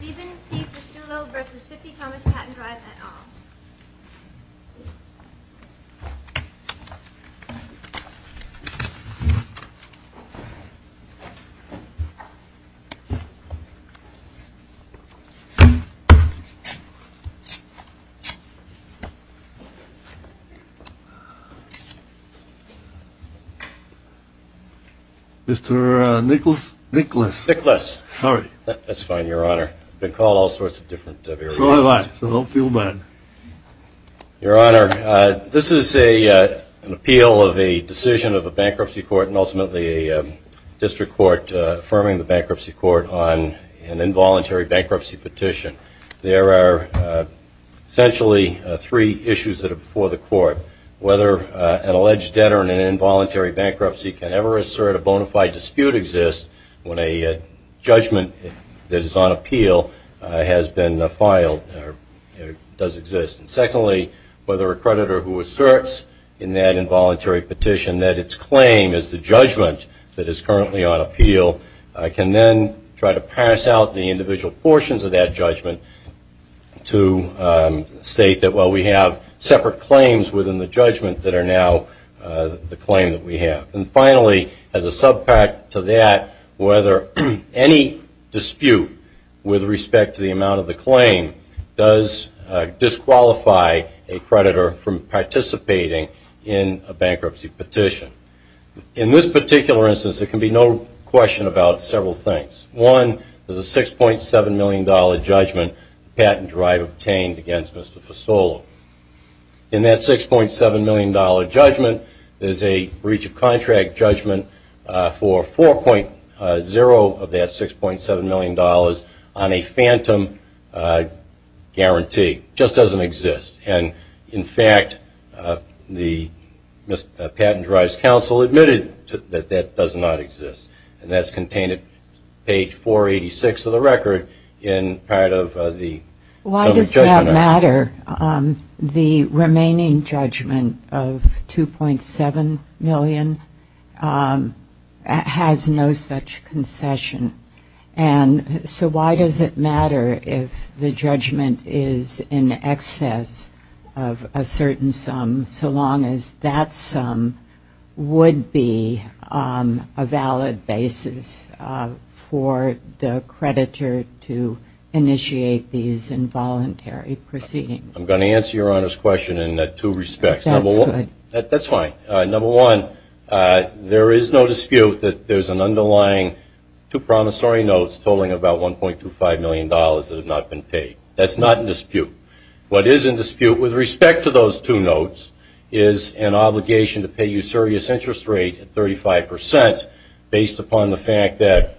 Steven C. Fustolo v. 50 Thomas Patton Drive et al. Mr. Nicholas? Nicholas. Nicholas. Sorry. That's fine, your honor. I've been called all sorts of different names. So have I, so don't feel bad. Your honor, this is an appeal of a decision of a bankruptcy court and ultimately a district court affirming the bankruptcy court on an involuntary bankruptcy petition. There are essentially three issues that are before the court. Whether an alleged debtor in an involuntary bankruptcy can ever assert a bona fide dispute exists when a judgment that is on appeal has been filed or does exist. Secondly, whether a creditor who asserts in that involuntary petition that its claim is the judgment that is currently on appeal can then try to pass out the individual portions of that judgment to state that, well, we have separate claims within the judgment that are now the claim that we have. And finally, as a subpact to that, whether any dispute with respect to the amount of the claim does disqualify a creditor from participating in a bankruptcy petition. In this particular instance, there can be no question about several things. One, there's a $6.7 million judgment that Patton Drive obtained against Mr. Pistolo. In that $6.7 million judgment, there's a breach of contract judgment for 4.0 of that $6.7 million on a phantom guarantee. It just doesn't exist. And, in fact, Patton Drive's counsel admitted that that does not exist. And that's contained at page 486 of the record in part of the judgment. Why does that matter? The remaining judgment of $2.7 million has no such concession. And so why does it matter if the judgment is in excess of a certain sum, so long as that sum would be a valid basis for the creditor to initiate these involuntary proceedings? I'm going to answer Your Honor's question in two respects. That's good. That's fine. Number one, there is no dispute that there's an underlying two promissory notes totaling about $1.25 million That's not in dispute. What is in dispute with respect to those two notes is an obligation to pay you serious interest rate at 35 percent based upon the fact that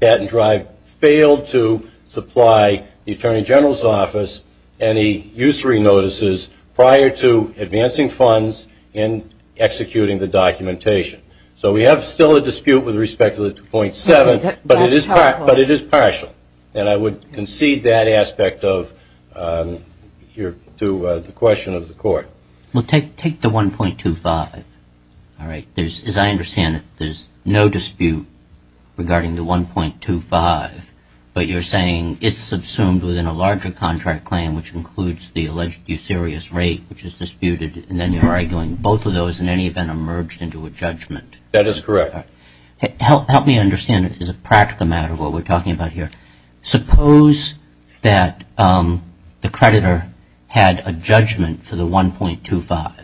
Patton Drive failed to supply the Attorney General's Office any usury notices prior to advancing funds and executing the documentation. So we have still a dispute with respect to the $2.7 million, but it is partial. And I would concede that aspect to the question of the court. Well, take the $1.25. As I understand it, there's no dispute regarding the $1.25, but you're saying it's subsumed within a larger contract claim, which includes the alleged usurious rate, which is disputed, and then you're arguing both of those in any event emerged into a judgment. That is correct. Help me understand, as a practical matter, what we're talking about here. Suppose that the creditor had a judgment for the $1.25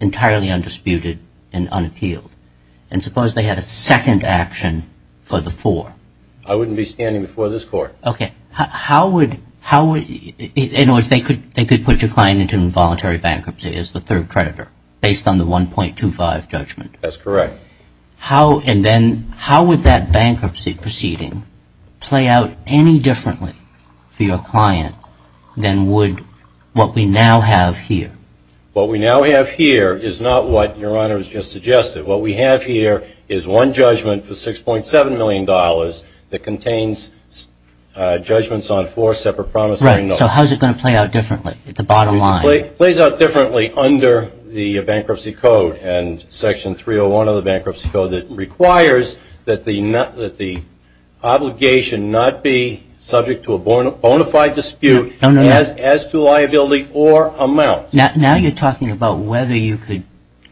entirely undisputed and unappealed. And suppose they had a second action for the $4.00. I wouldn't be standing before this court. Okay. In other words, they could put your client into involuntary bankruptcy as the third creditor based on the $1.25 judgment. That's correct. And then how would that bankruptcy proceeding play out any differently for your client than would what we now have here? What we now have here is not what Your Honor has just suggested. What we have here is one judgment for $6.7 million that contains judgments on four separate promising notes. Right. So how is it going to play out differently at the bottom line? It plays out differently under the Bankruptcy Code and Section 301 of the Bankruptcy Code that requires that the obligation not be subject to a bona fide dispute as to liability or amount. Now you're talking about whether you could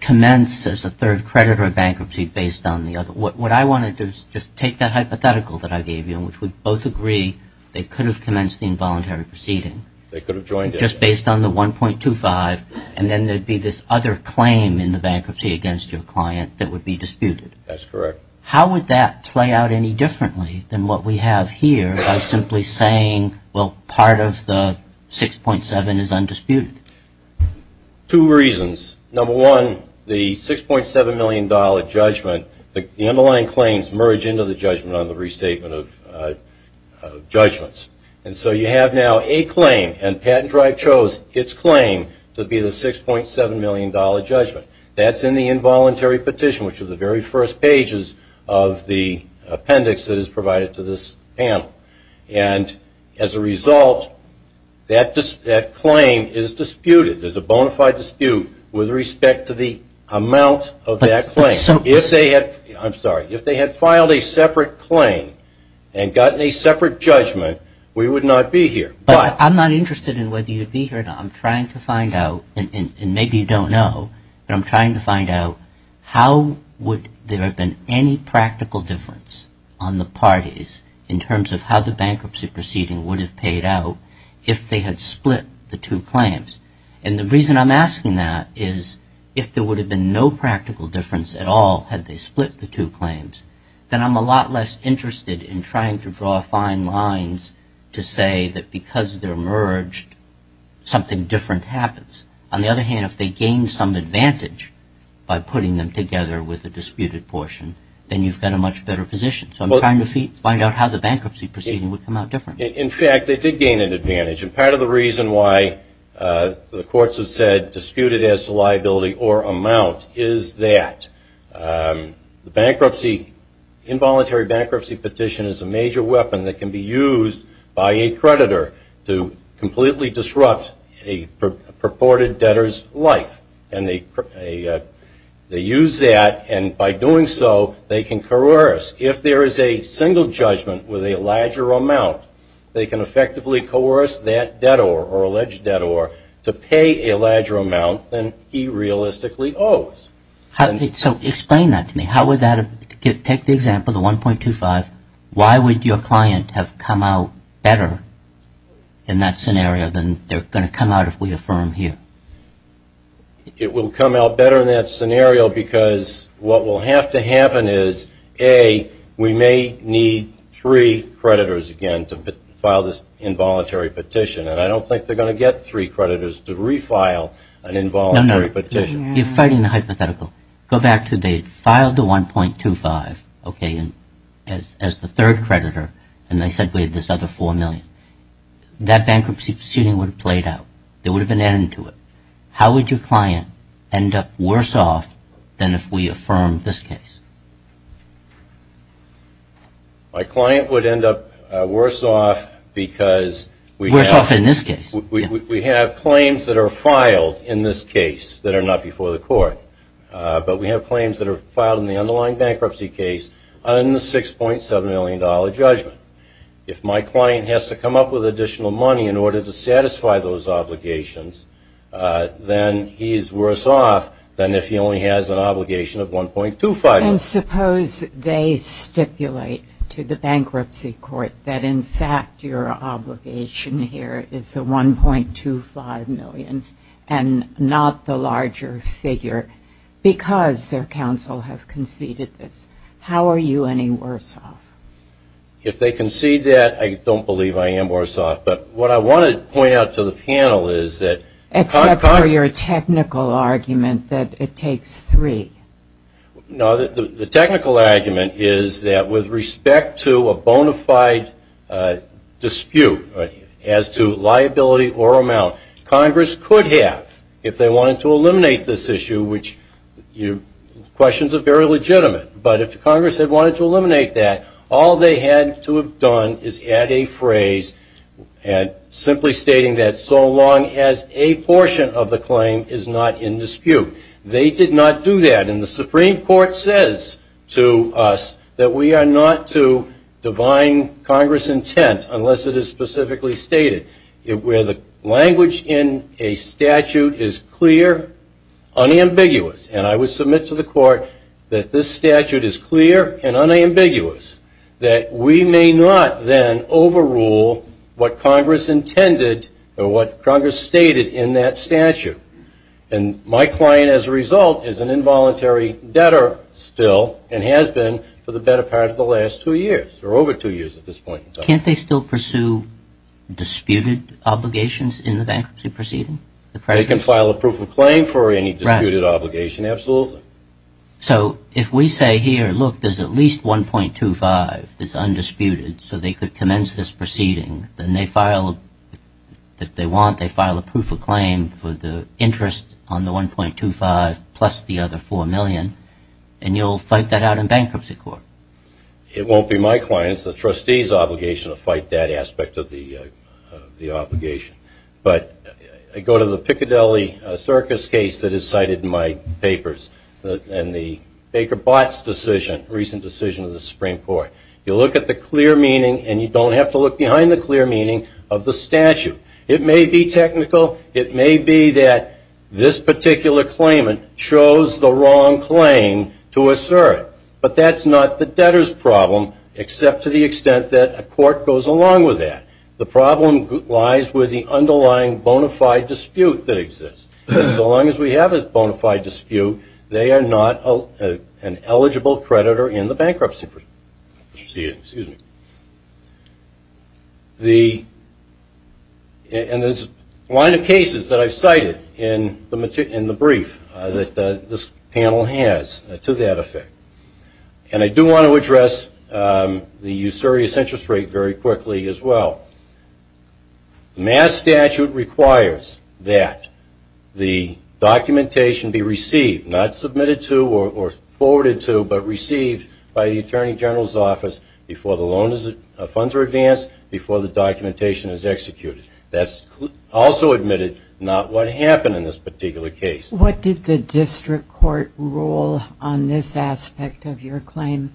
commence as a third creditor a bankruptcy based on the other. What I wanted to do is just take that hypothetical that I gave you in which we both agree they could have commenced the involuntary proceeding. They could have joined it. Just based on the $1.25 and then there would be this other claim in the bankruptcy against your client that would be disputed. That's correct. How would that play out any differently than what we have here by simply saying, well, part of the $6.7 is undisputed? Two reasons. Number one, the $6.7 million judgment, the underlying claims merge into the judgment on the restatement of judgments. And so you have now a claim and Patent Drive chose its claim to be the $6.7 million judgment. That's in the involuntary petition, which is the very first pages of the appendix that is provided to this panel. And as a result, that claim is disputed. There's a bona fide dispute with respect to the amount of that claim. I'm sorry. If they had filed a separate claim and gotten a separate judgment, we would not be here. But I'm not interested in whether you'd be here or not. I'm trying to find out, and maybe you don't know, but I'm trying to find out how would there have been any practical difference on the parties in terms of how the bankruptcy proceeding would have paid out if they had split the two claims. And the reason I'm asking that is if there would have been no practical difference at all had they split the two claims, then I'm a lot less interested in trying to draw fine lines to say that because they're merged, something different happens. On the other hand, if they gained some advantage by putting them together with the disputed portion, then you've got a much better position. So I'm trying to find out how the bankruptcy proceeding would come out different. In fact, they did gain an advantage, and part of the reason why the courts have said disputed as a liability or amount is that the bankruptcy, involuntary bankruptcy petition is a major weapon that can be used by a creditor to completely disrupt a purported debtor's life. And they use that, and by doing so, they can coerce. If there is a single judgment with a larger amount, they can effectively coerce that debtor or alleged debtor to pay a larger amount than he realistically owes. So explain that to me. Take the example, the 1.25. Why would your client have come out better in that scenario than they're going to come out if we affirm here? It will come out better in that scenario because what will have to happen is, A, we may need three creditors again to file this involuntary petition, and I don't think they're going to get three creditors to refile an involuntary petition. You're fighting the hypothetical. Go back to they filed the 1.25 as the third creditor, and they said we have this other 4 million. That bankruptcy proceeding would have played out. There would have been an end to it. How would your client end up worse off than if we affirm this case? My client would end up worse off because we have claims that are filed in this case that are not before the court, but we have claims that are filed in the underlying bankruptcy case on the $6.7 million judgment. If my client has to come up with additional money in order to satisfy those obligations, then he is worse off than if he only has an obligation of 1.25 million. And suppose they stipulate to the bankruptcy court that, in fact, your obligation here is the 1.25 million and not the larger figure because their counsel have conceded this. How are you any worse off? If they concede that, I don't believe I am worse off. But what I want to point out to the panel is that – Except for your technical argument that it takes three. No, the technical argument is that with respect to a bona fide dispute as to liability or amount, Congress could have if they wanted to eliminate this issue, which questions are very legitimate. But if Congress had wanted to eliminate that, all they had to have done is add a phrase simply stating that so long as a portion of the claim is not in dispute. They did not do that. And the Supreme Court says to us that we are not to divine Congress' intent unless it is specifically stated. Where the language in a statute is clear, unambiguous, and I would submit to the court that this statute is clear and unambiguous, that we may not then overrule what Congress intended or what Congress stated in that statute. And my client as a result is an involuntary debtor still and has been for the better part of the last two years or over two years at this point in time. Can't they still pursue disputed obligations in the bankruptcy proceeding? They can file a proof of claim for any disputed obligation, absolutely. So if we say here, look, there's at least 1.25 that's undisputed so they could commence this proceeding, then they file if they want, they file a proof of claim for the interest on the 1.25 plus the other 4 million, and you'll fight that out in bankruptcy court? It won't be my client's, the trustee's obligation to fight that aspect of the obligation. But I go to the Piccadilly Circus case that is cited in my papers and the Baker-Botts decision, recent decision of the Supreme Court. You look at the clear meaning, and you don't have to look behind the clear meaning of the statute. It may be technical. It may be that this particular claimant chose the wrong claim to assert, but that's not the debtor's problem except to the extent that a court goes along with that. The problem lies with the underlying bona fide dispute that exists. So long as we have a bona fide dispute, they are not an eligible creditor in the bankruptcy proceeding. And there's a line of cases that I've cited in the brief that this panel has to that effect. And I do want to address the usurious interest rate very quickly as well. Mass statute requires that the documentation be received, not submitted to or forwarded to, but received by the Attorney General's office before the loan funds are advanced, before the documentation is executed. That's also admitted, not what happened in this particular case. What did the district court rule on this aspect of your claim?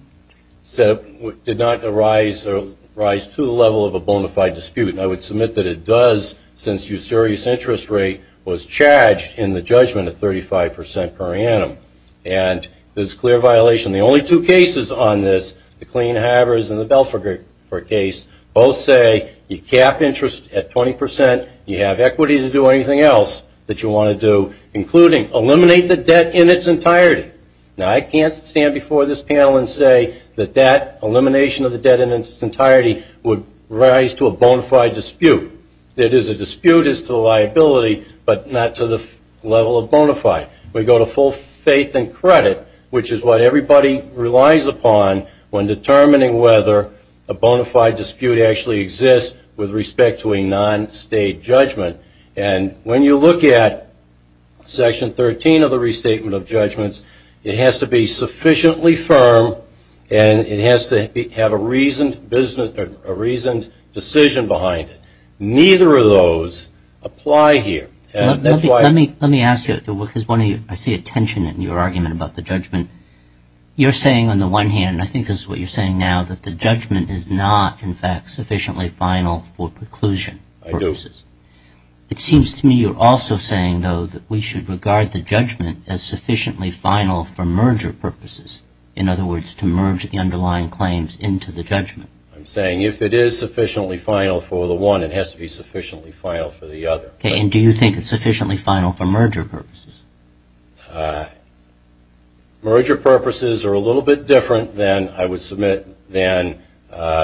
It did not arise to the level of a bona fide dispute, and I would submit that it does since the usurious interest rate was charged in the judgment at 35 percent per annum. And this is a clear violation. The only two cases on this, the Clean Havers and the Belfer case, both say you cap interest at 20 percent, you have equity to do anything else that you want to do, including eliminate the debt in its entirety. Now, I can't stand before this panel and say that that elimination of the debt in its entirety would rise to a bona fide dispute. It is a dispute as to liability, but not to the level of bona fide. We go to full faith and credit, which is what everybody relies upon when determining whether a bona fide dispute actually exists with respect to a non-state judgment. And when you look at Section 13 of the Restatement of Judgments, it has to be sufficiently firm and it has to have a reasoned decision behind it. Neither of those apply here. Let me ask you, because I see a tension in your argument about the judgment. You're saying on the one hand, and I think this is what you're saying now, that the judgment is not, in fact, sufficiently final for preclusion purposes. It seems to me you're also saying, though, that we should regard the judgment as sufficiently final for merger purposes. In other words, to merge the underlying claims into the judgment. I'm saying if it is sufficiently final for the one, it has to be sufficiently final for the other. Okay, and do you think it's sufficiently final for merger purposes? Merger purposes are a little bit different than, I would submit, than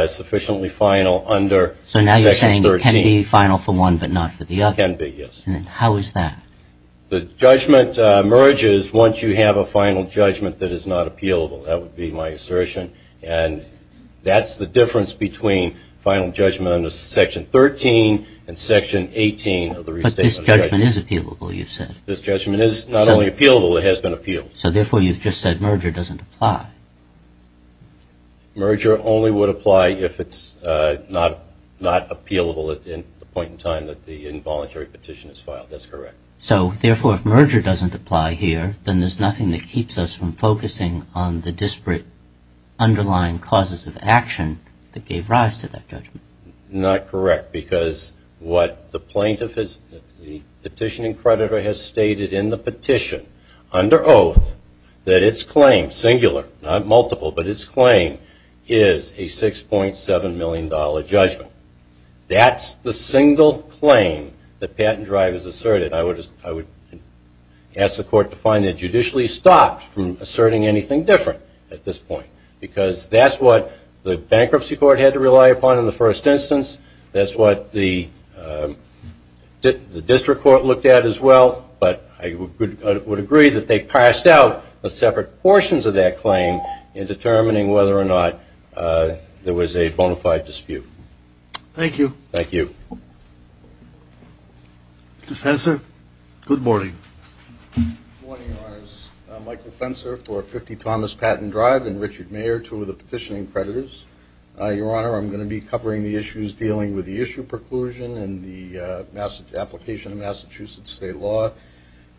sufficiently final under Section 13. So now you're saying it can be final for one but not for the other. It can be, yes. How is that? The judgment merges once you have a final judgment that is not appealable. That would be my assertion. And that's the difference between final judgment under Section 13 and Section 18 of the Restatement of Judgments. But this judgment is appealable, you said. This judgment is not only appealable, it has been appealed. So therefore, you've just said merger doesn't apply. Merger only would apply if it's not appealable at the point in time that the involuntary petition is filed. That's correct. So, therefore, if merger doesn't apply here, then there's nothing that keeps us from focusing on the disparate underlying causes of action that gave rise to that judgment. Not correct, because what the plaintiff, the petitioning creditor, has stated in the petition under oath that its claim, singular, not multiple, but its claim is a $6.7 million judgment. That's the single claim that Patent Drive has asserted. I would ask the court to find it judicially stopped from asserting anything different at this point, because that's what the Bankruptcy Court had to rely upon in the first instance. That's what the District Court looked at as well. But I would agree that they passed out separate portions of that claim in determining whether or not there was a bona fide dispute. Thank you. Thank you. Mr. Fenser, good morning. Good morning, Your Honors. I'm Michael Fenser for 50 Thomas Patent Drive, and Richard Mayer, two of the petitioning creditors. Your Honor, I'm going to be covering the issues dealing with the issue preclusion and the application of Massachusetts state law.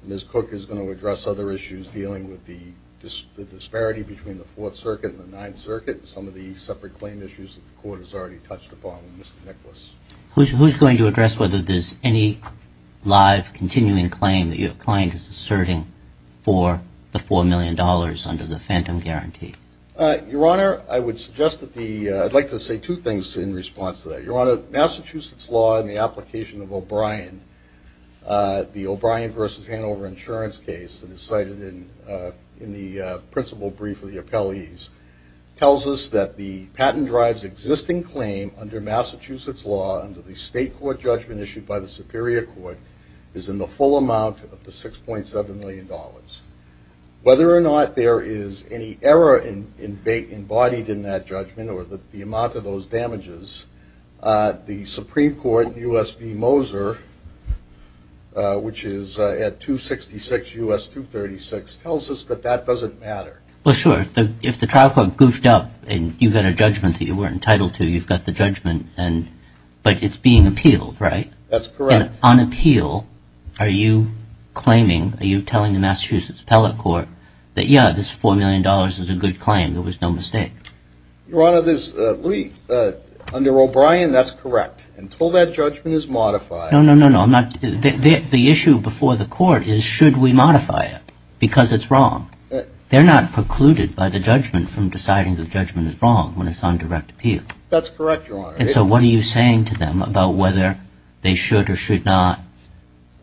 Ms. Cook is going to address other issues dealing with the disparity between the Fourth Circuit and the Ninth Circuit and some of the separate claim issues that the court has already touched upon. Mr. Nicklaus. Who's going to address whether there's any live continuing claim that your client is asserting for the $4 million under the phantom guarantee? Your Honor, I would suggest that the – I'd like to say two things in response to that. Your Honor, Massachusetts law and the application of O'Brien, the O'Brien v. Hanover insurance case that is cited in the principal brief of the appellees, tells us that the patent drive's existing claim under Massachusetts law under the state court judgment issued by the Superior Court is in the full amount of the $6.7 million. Whether or not there is any error embodied in that judgment or the amount of those damages, the Supreme Court, U.S. v. Moser, which is at 266 U.S. 236, tells us that that doesn't matter. Well, sure. If the trial court goofed up and you get a judgment that you weren't entitled to, you've got the judgment, but it's being appealed, right? That's correct. But on appeal, are you claiming, are you telling the Massachusetts appellate court that, yeah, this $4 million is a good claim, there was no mistake? Your Honor, under O'Brien, that's correct. Until that judgment is modified – No, no, no, no. The issue before the court is should we modify it because it's wrong. They're not precluded by the judgment from deciding the judgment is wrong when it's on direct appeal. That's correct, Your Honor. And so what are you saying to them about whether they should or should not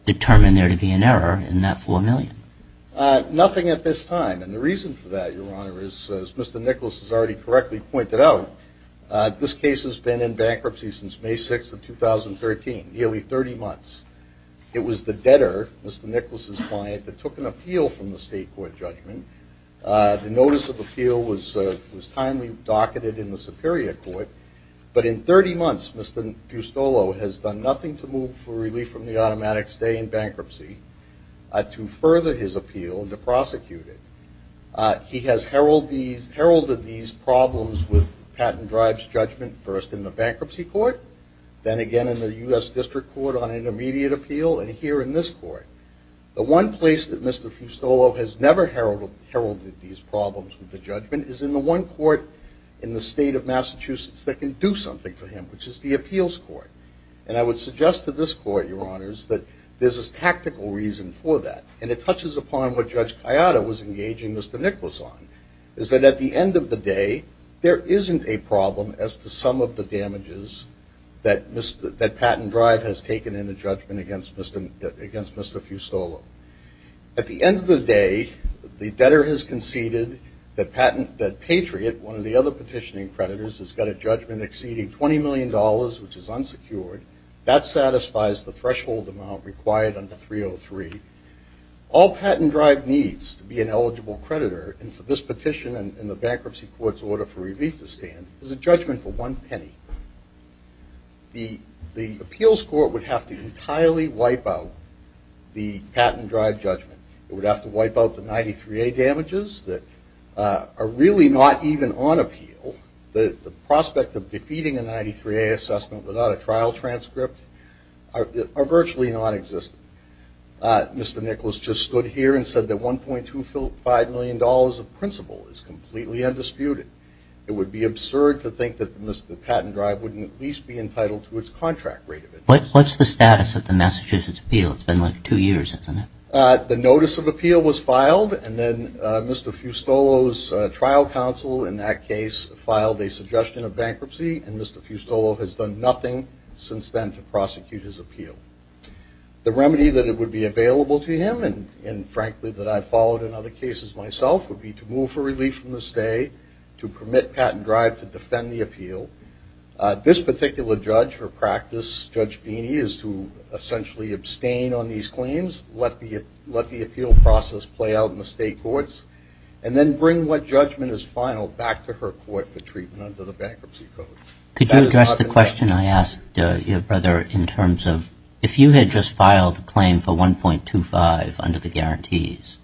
determine there to be an error in that $4 million? Nothing at this time, and the reason for that, Your Honor, is, as Mr. Nicholas has already correctly pointed out, this case has been in bankruptcy since May 6th of 2013, nearly 30 months. It was the debtor, Mr. Nicholas's client, that took an appeal from the state court judgment. The notice of appeal was timely docketed in the superior court. But in 30 months, Mr. Fustolo has done nothing to move for relief from the automatic stay in bankruptcy to further his appeal to prosecute it. He has heralded these problems with patent drives judgment first in the bankruptcy court, then again in the U.S. District Court on intermediate appeal, and here in this court. The one place that Mr. Fustolo has never heralded these problems with the judgment is in the one court in the state of Massachusetts that can do something for him, which is the appeals court. And I would suggest to this court, Your Honors, that there's a tactical reason for that, and it touches upon what Judge Kayada was engaging Mr. Nicholas on, is that at the end of the day, there isn't a problem as to some of the damages that patent drive has taken in the judgment against Mr. Fustolo. At the end of the day, the debtor has conceded that Patriot, one of the other petitioning creditors, has got a judgment exceeding $20 million, which is unsecured. That satisfies the threshold amount required under 303. All patent drive needs to be an eligible creditor, and for this petition and the bankruptcy court's order for relief to stand, there's a judgment for one penny. The appeals court would have to entirely wipe out the patent drive judgment. It would have to wipe out the 93A damages that are really not even on appeal. The prospect of defeating a 93A assessment without a trial transcript are virtually nonexistent. Mr. Nicholas just stood here and said that $1.25 million of principal is completely undisputed. It would be absurd to think that the patent drive wouldn't at least be entitled to its contract rate. What's the status of the Massachusetts appeal? It's been like two years, hasn't it? The notice of appeal was filed, and then Mr. Fustolo's trial counsel in that case filed a suggestion of bankruptcy, and Mr. Fustolo has done nothing since then to prosecute his appeal. The remedy that would be available to him, and frankly that I've followed in other cases myself, would be to move for relief from the state, to permit patent drive to defend the appeal. This particular judge or practice, Judge Feeney, is to essentially abstain on these claims, let the appeal process play out in the state courts, and then bring what judgment is final back to her court for treatment under the bankruptcy code. Could you address the question I asked your brother in terms of if you had just filed a claim for 1.25 under the guarantees,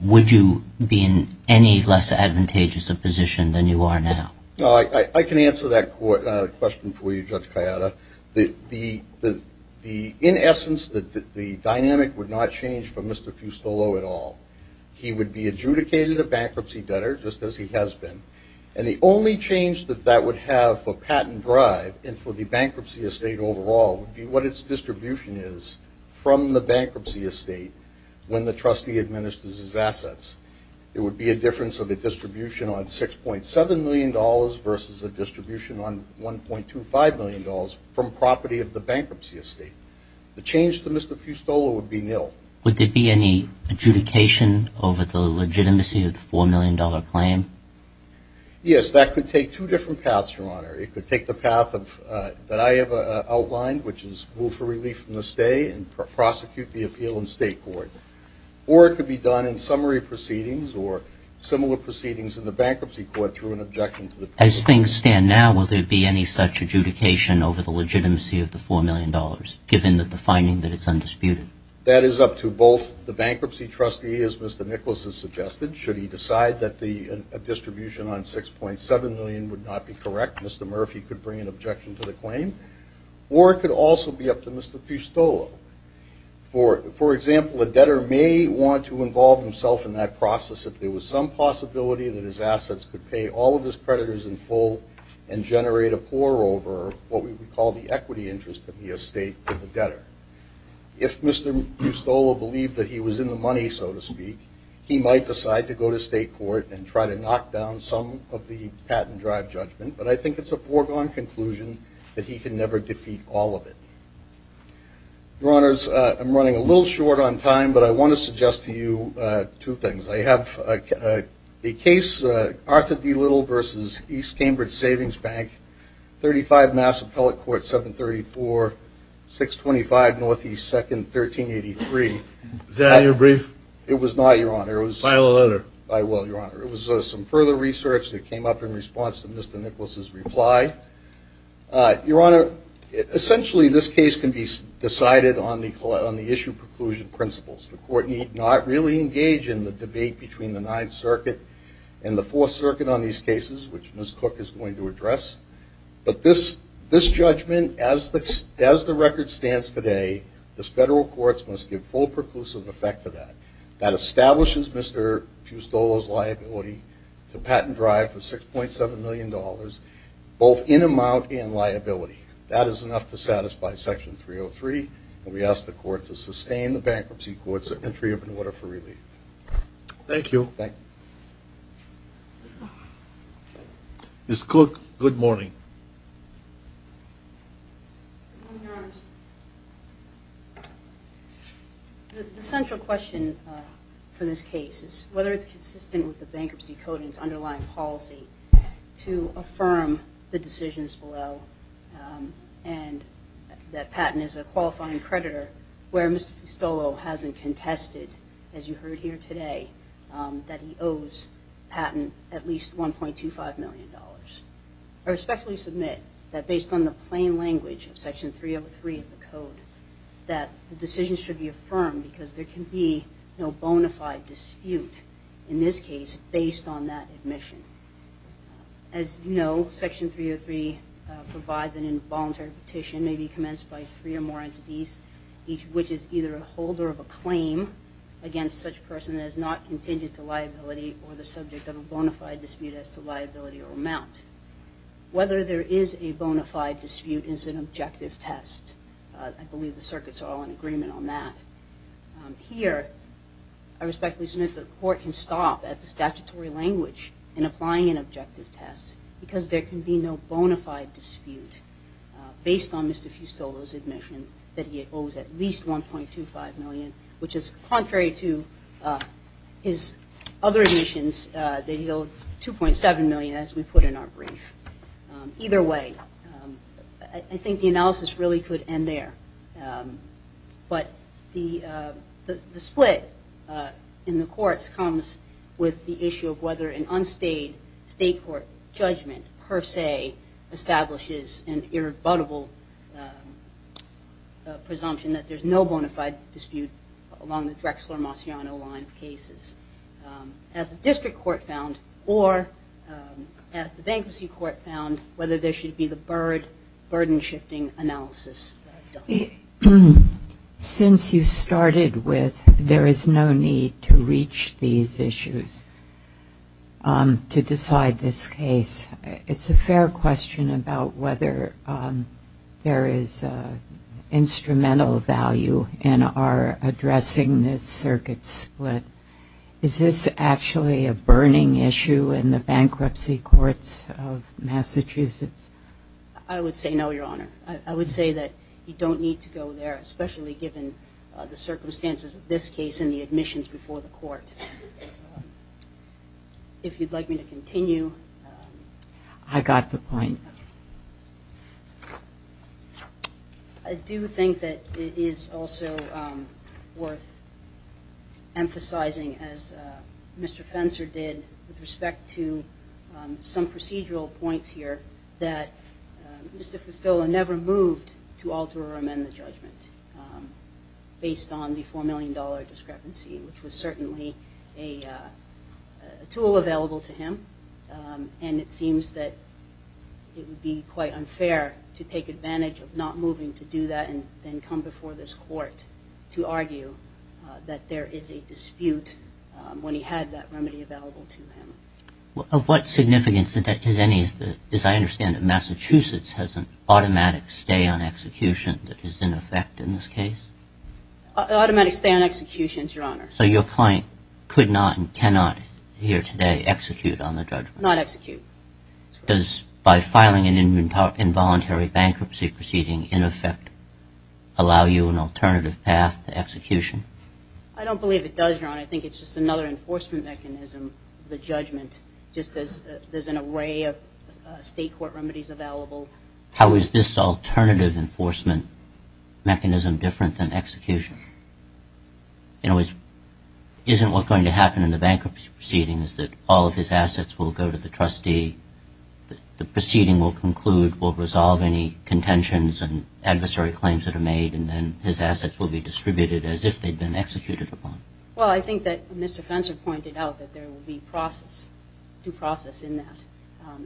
would you be in any less advantageous a position than you are now? I can answer that question for you, Judge Cayada. In essence, the dynamic would not change for Mr. Fustolo at all. He would be adjudicated a bankruptcy debtor, just as he has been, and the only change that that would have for patent drive and for the bankruptcy estate overall would be what its distribution is from the bankruptcy estate when the trustee administers his assets. It would be a difference of a distribution on $6.7 million versus a distribution on $1.25 million from property of the bankruptcy estate. The change to Mr. Fustolo would be nil. Would there be any adjudication over the legitimacy of the $4 million claim? As things stand now, will there be any such adjudication over the legitimacy of the $4 million, given that the finding that it's undisputed? That is up to both the bankruptcy trustee, as Mr. Nicklaus has suggested. Should he decide that a distribution on $6.7 million would not be correct, Mr. McLaughlin, could bring an objection to the claim, or it could also be up to Mr. Fustolo. For example, a debtor may want to involve himself in that process if there was some possibility that his assets could pay all of his creditors in full and generate a pour over what we would call the equity interest of the estate to the debtor. If Mr. Fustolo believed that he was in the money, so to speak, he might decide to go to state court and try to knock down some of the patent drive judgment, but I think it's a foregone conclusion that he can never defeat all of it. Your Honors, I'm running a little short on time, but I want to suggest to you two things. I have a case, Arthur D. Little v. East Cambridge Savings Bank, 35 Mass Appellate Court, 734-625 NE 2nd 1383. Is that your brief? It was not, Your Honor. File a letter. I will, Your Honor. It was some further research that came up in response to Mr. Nicholas's reply. Your Honor, essentially this case can be decided on the issue preclusion principles. The court need not really engage in the debate between the Ninth Circuit and the Fourth Circuit on these cases, which Ms. Cook is going to address. But this judgment, as the record stands today, the federal courts must give full preclusive effect to that. That establishes Mr. Fustolo's liability to patent drive for $6.7 million, both in amount and liability. That is enough to satisfy Section 303, and we ask the court to sustain the bankruptcy court's entry up in order for relief. Thank you. Thank you. Ms. Cook, good morning. Good morning, Your Honors. The central question for this case is whether it's consistent with the bankruptcy code and its underlying policy to affirm the decisions below and that Patton is a qualifying creditor, where Mr. Fustolo hasn't contested, as you heard here today, that he owes Patton at least $1.25 million. I respectfully submit that based on the plain language of Section 303 of the code, that the decision should be affirmed because there can be no bona fide dispute in this case based on that admission. As you know, Section 303 provides an involuntary petition, maybe commenced by three or more entities, which is either a holder of a claim against such a person that is not contingent to liability or the subject of a bona fide dispute as to liability or amount. Whether there is a bona fide dispute is an objective test. I believe the circuits are all in agreement on that. Here, I respectfully submit that the court can stop at the statutory language in applying an objective test because there can be no bona fide dispute based on Mr. Fustolo's admission that he owes at least $1.25 million, which is contrary to his other admissions that he owed $2.7 million, as we put in our brief. Either way, I think the analysis really could end there. But the split in the courts comes with the issue of whether an unstayed state court judgment, per se, establishes an irrebuttable presumption that there's no bona fide dispute along the Drexler-Masiano line of cases. As the district court found, or as the bankruptcy court found, whether there should be the burden-shifting analysis done. Since you started with there is no need to reach these issues to decide this case, it's a fair question about whether there is instrumental value in our addressing this circuit split. Is this actually a burning issue in the bankruptcy courts of Massachusetts? I would say no, Your Honor. I would say that you don't need to go there, especially given the circumstances of this case and the admissions before the court. If you'd like me to continue. I got the point. I do think that it is also worth emphasizing, as Mr. Fenser did with respect to some procedural points here, that Mr. Festola never moved to alter or amend the judgment based on the $4 million discrepancy, which was certainly a tool available to him. And it seems that it would be quite unfair to take advantage of not moving to do that and then come before this court to argue that there is a dispute when he had that remedy available to him. Of what significance is any, as I understand it, Massachusetts has an automatic stay on execution that is in effect in this case? Automatic stay on execution, Your Honor. So your client could not and cannot here today execute on the judgment? Not execute. Does by filing an involuntary bankruptcy proceeding in effect allow you an alternative path to execution? I don't believe it does, Your Honor. I think it's just another enforcement mechanism, the judgment, just as there's an array of state court remedies available. How is this alternative enforcement mechanism different than execution? In other words, isn't what's going to happen in the bankruptcy proceeding is that all of his assets will go to the trustee, the proceeding will conclude, will resolve any contentions and adversary claims that are made, and then his assets will be distributed as if they'd been executed upon? Well, I think that Mr. Fenser pointed out that there will be process, due process in that,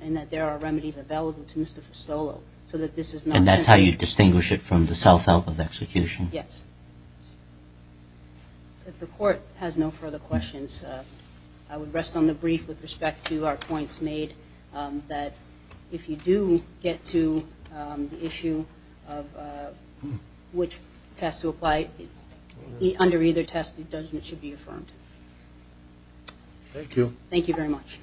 and that there are remedies available to Mr. Festolo so that this is not simply. And that's how you distinguish it from the self-help of execution? Yes. If the court has no further questions, I would rest on the brief with respect to our points made, that if you do get to the issue of which test to apply, under either test, the judgment should be affirmed. Thank you. Thank you very much.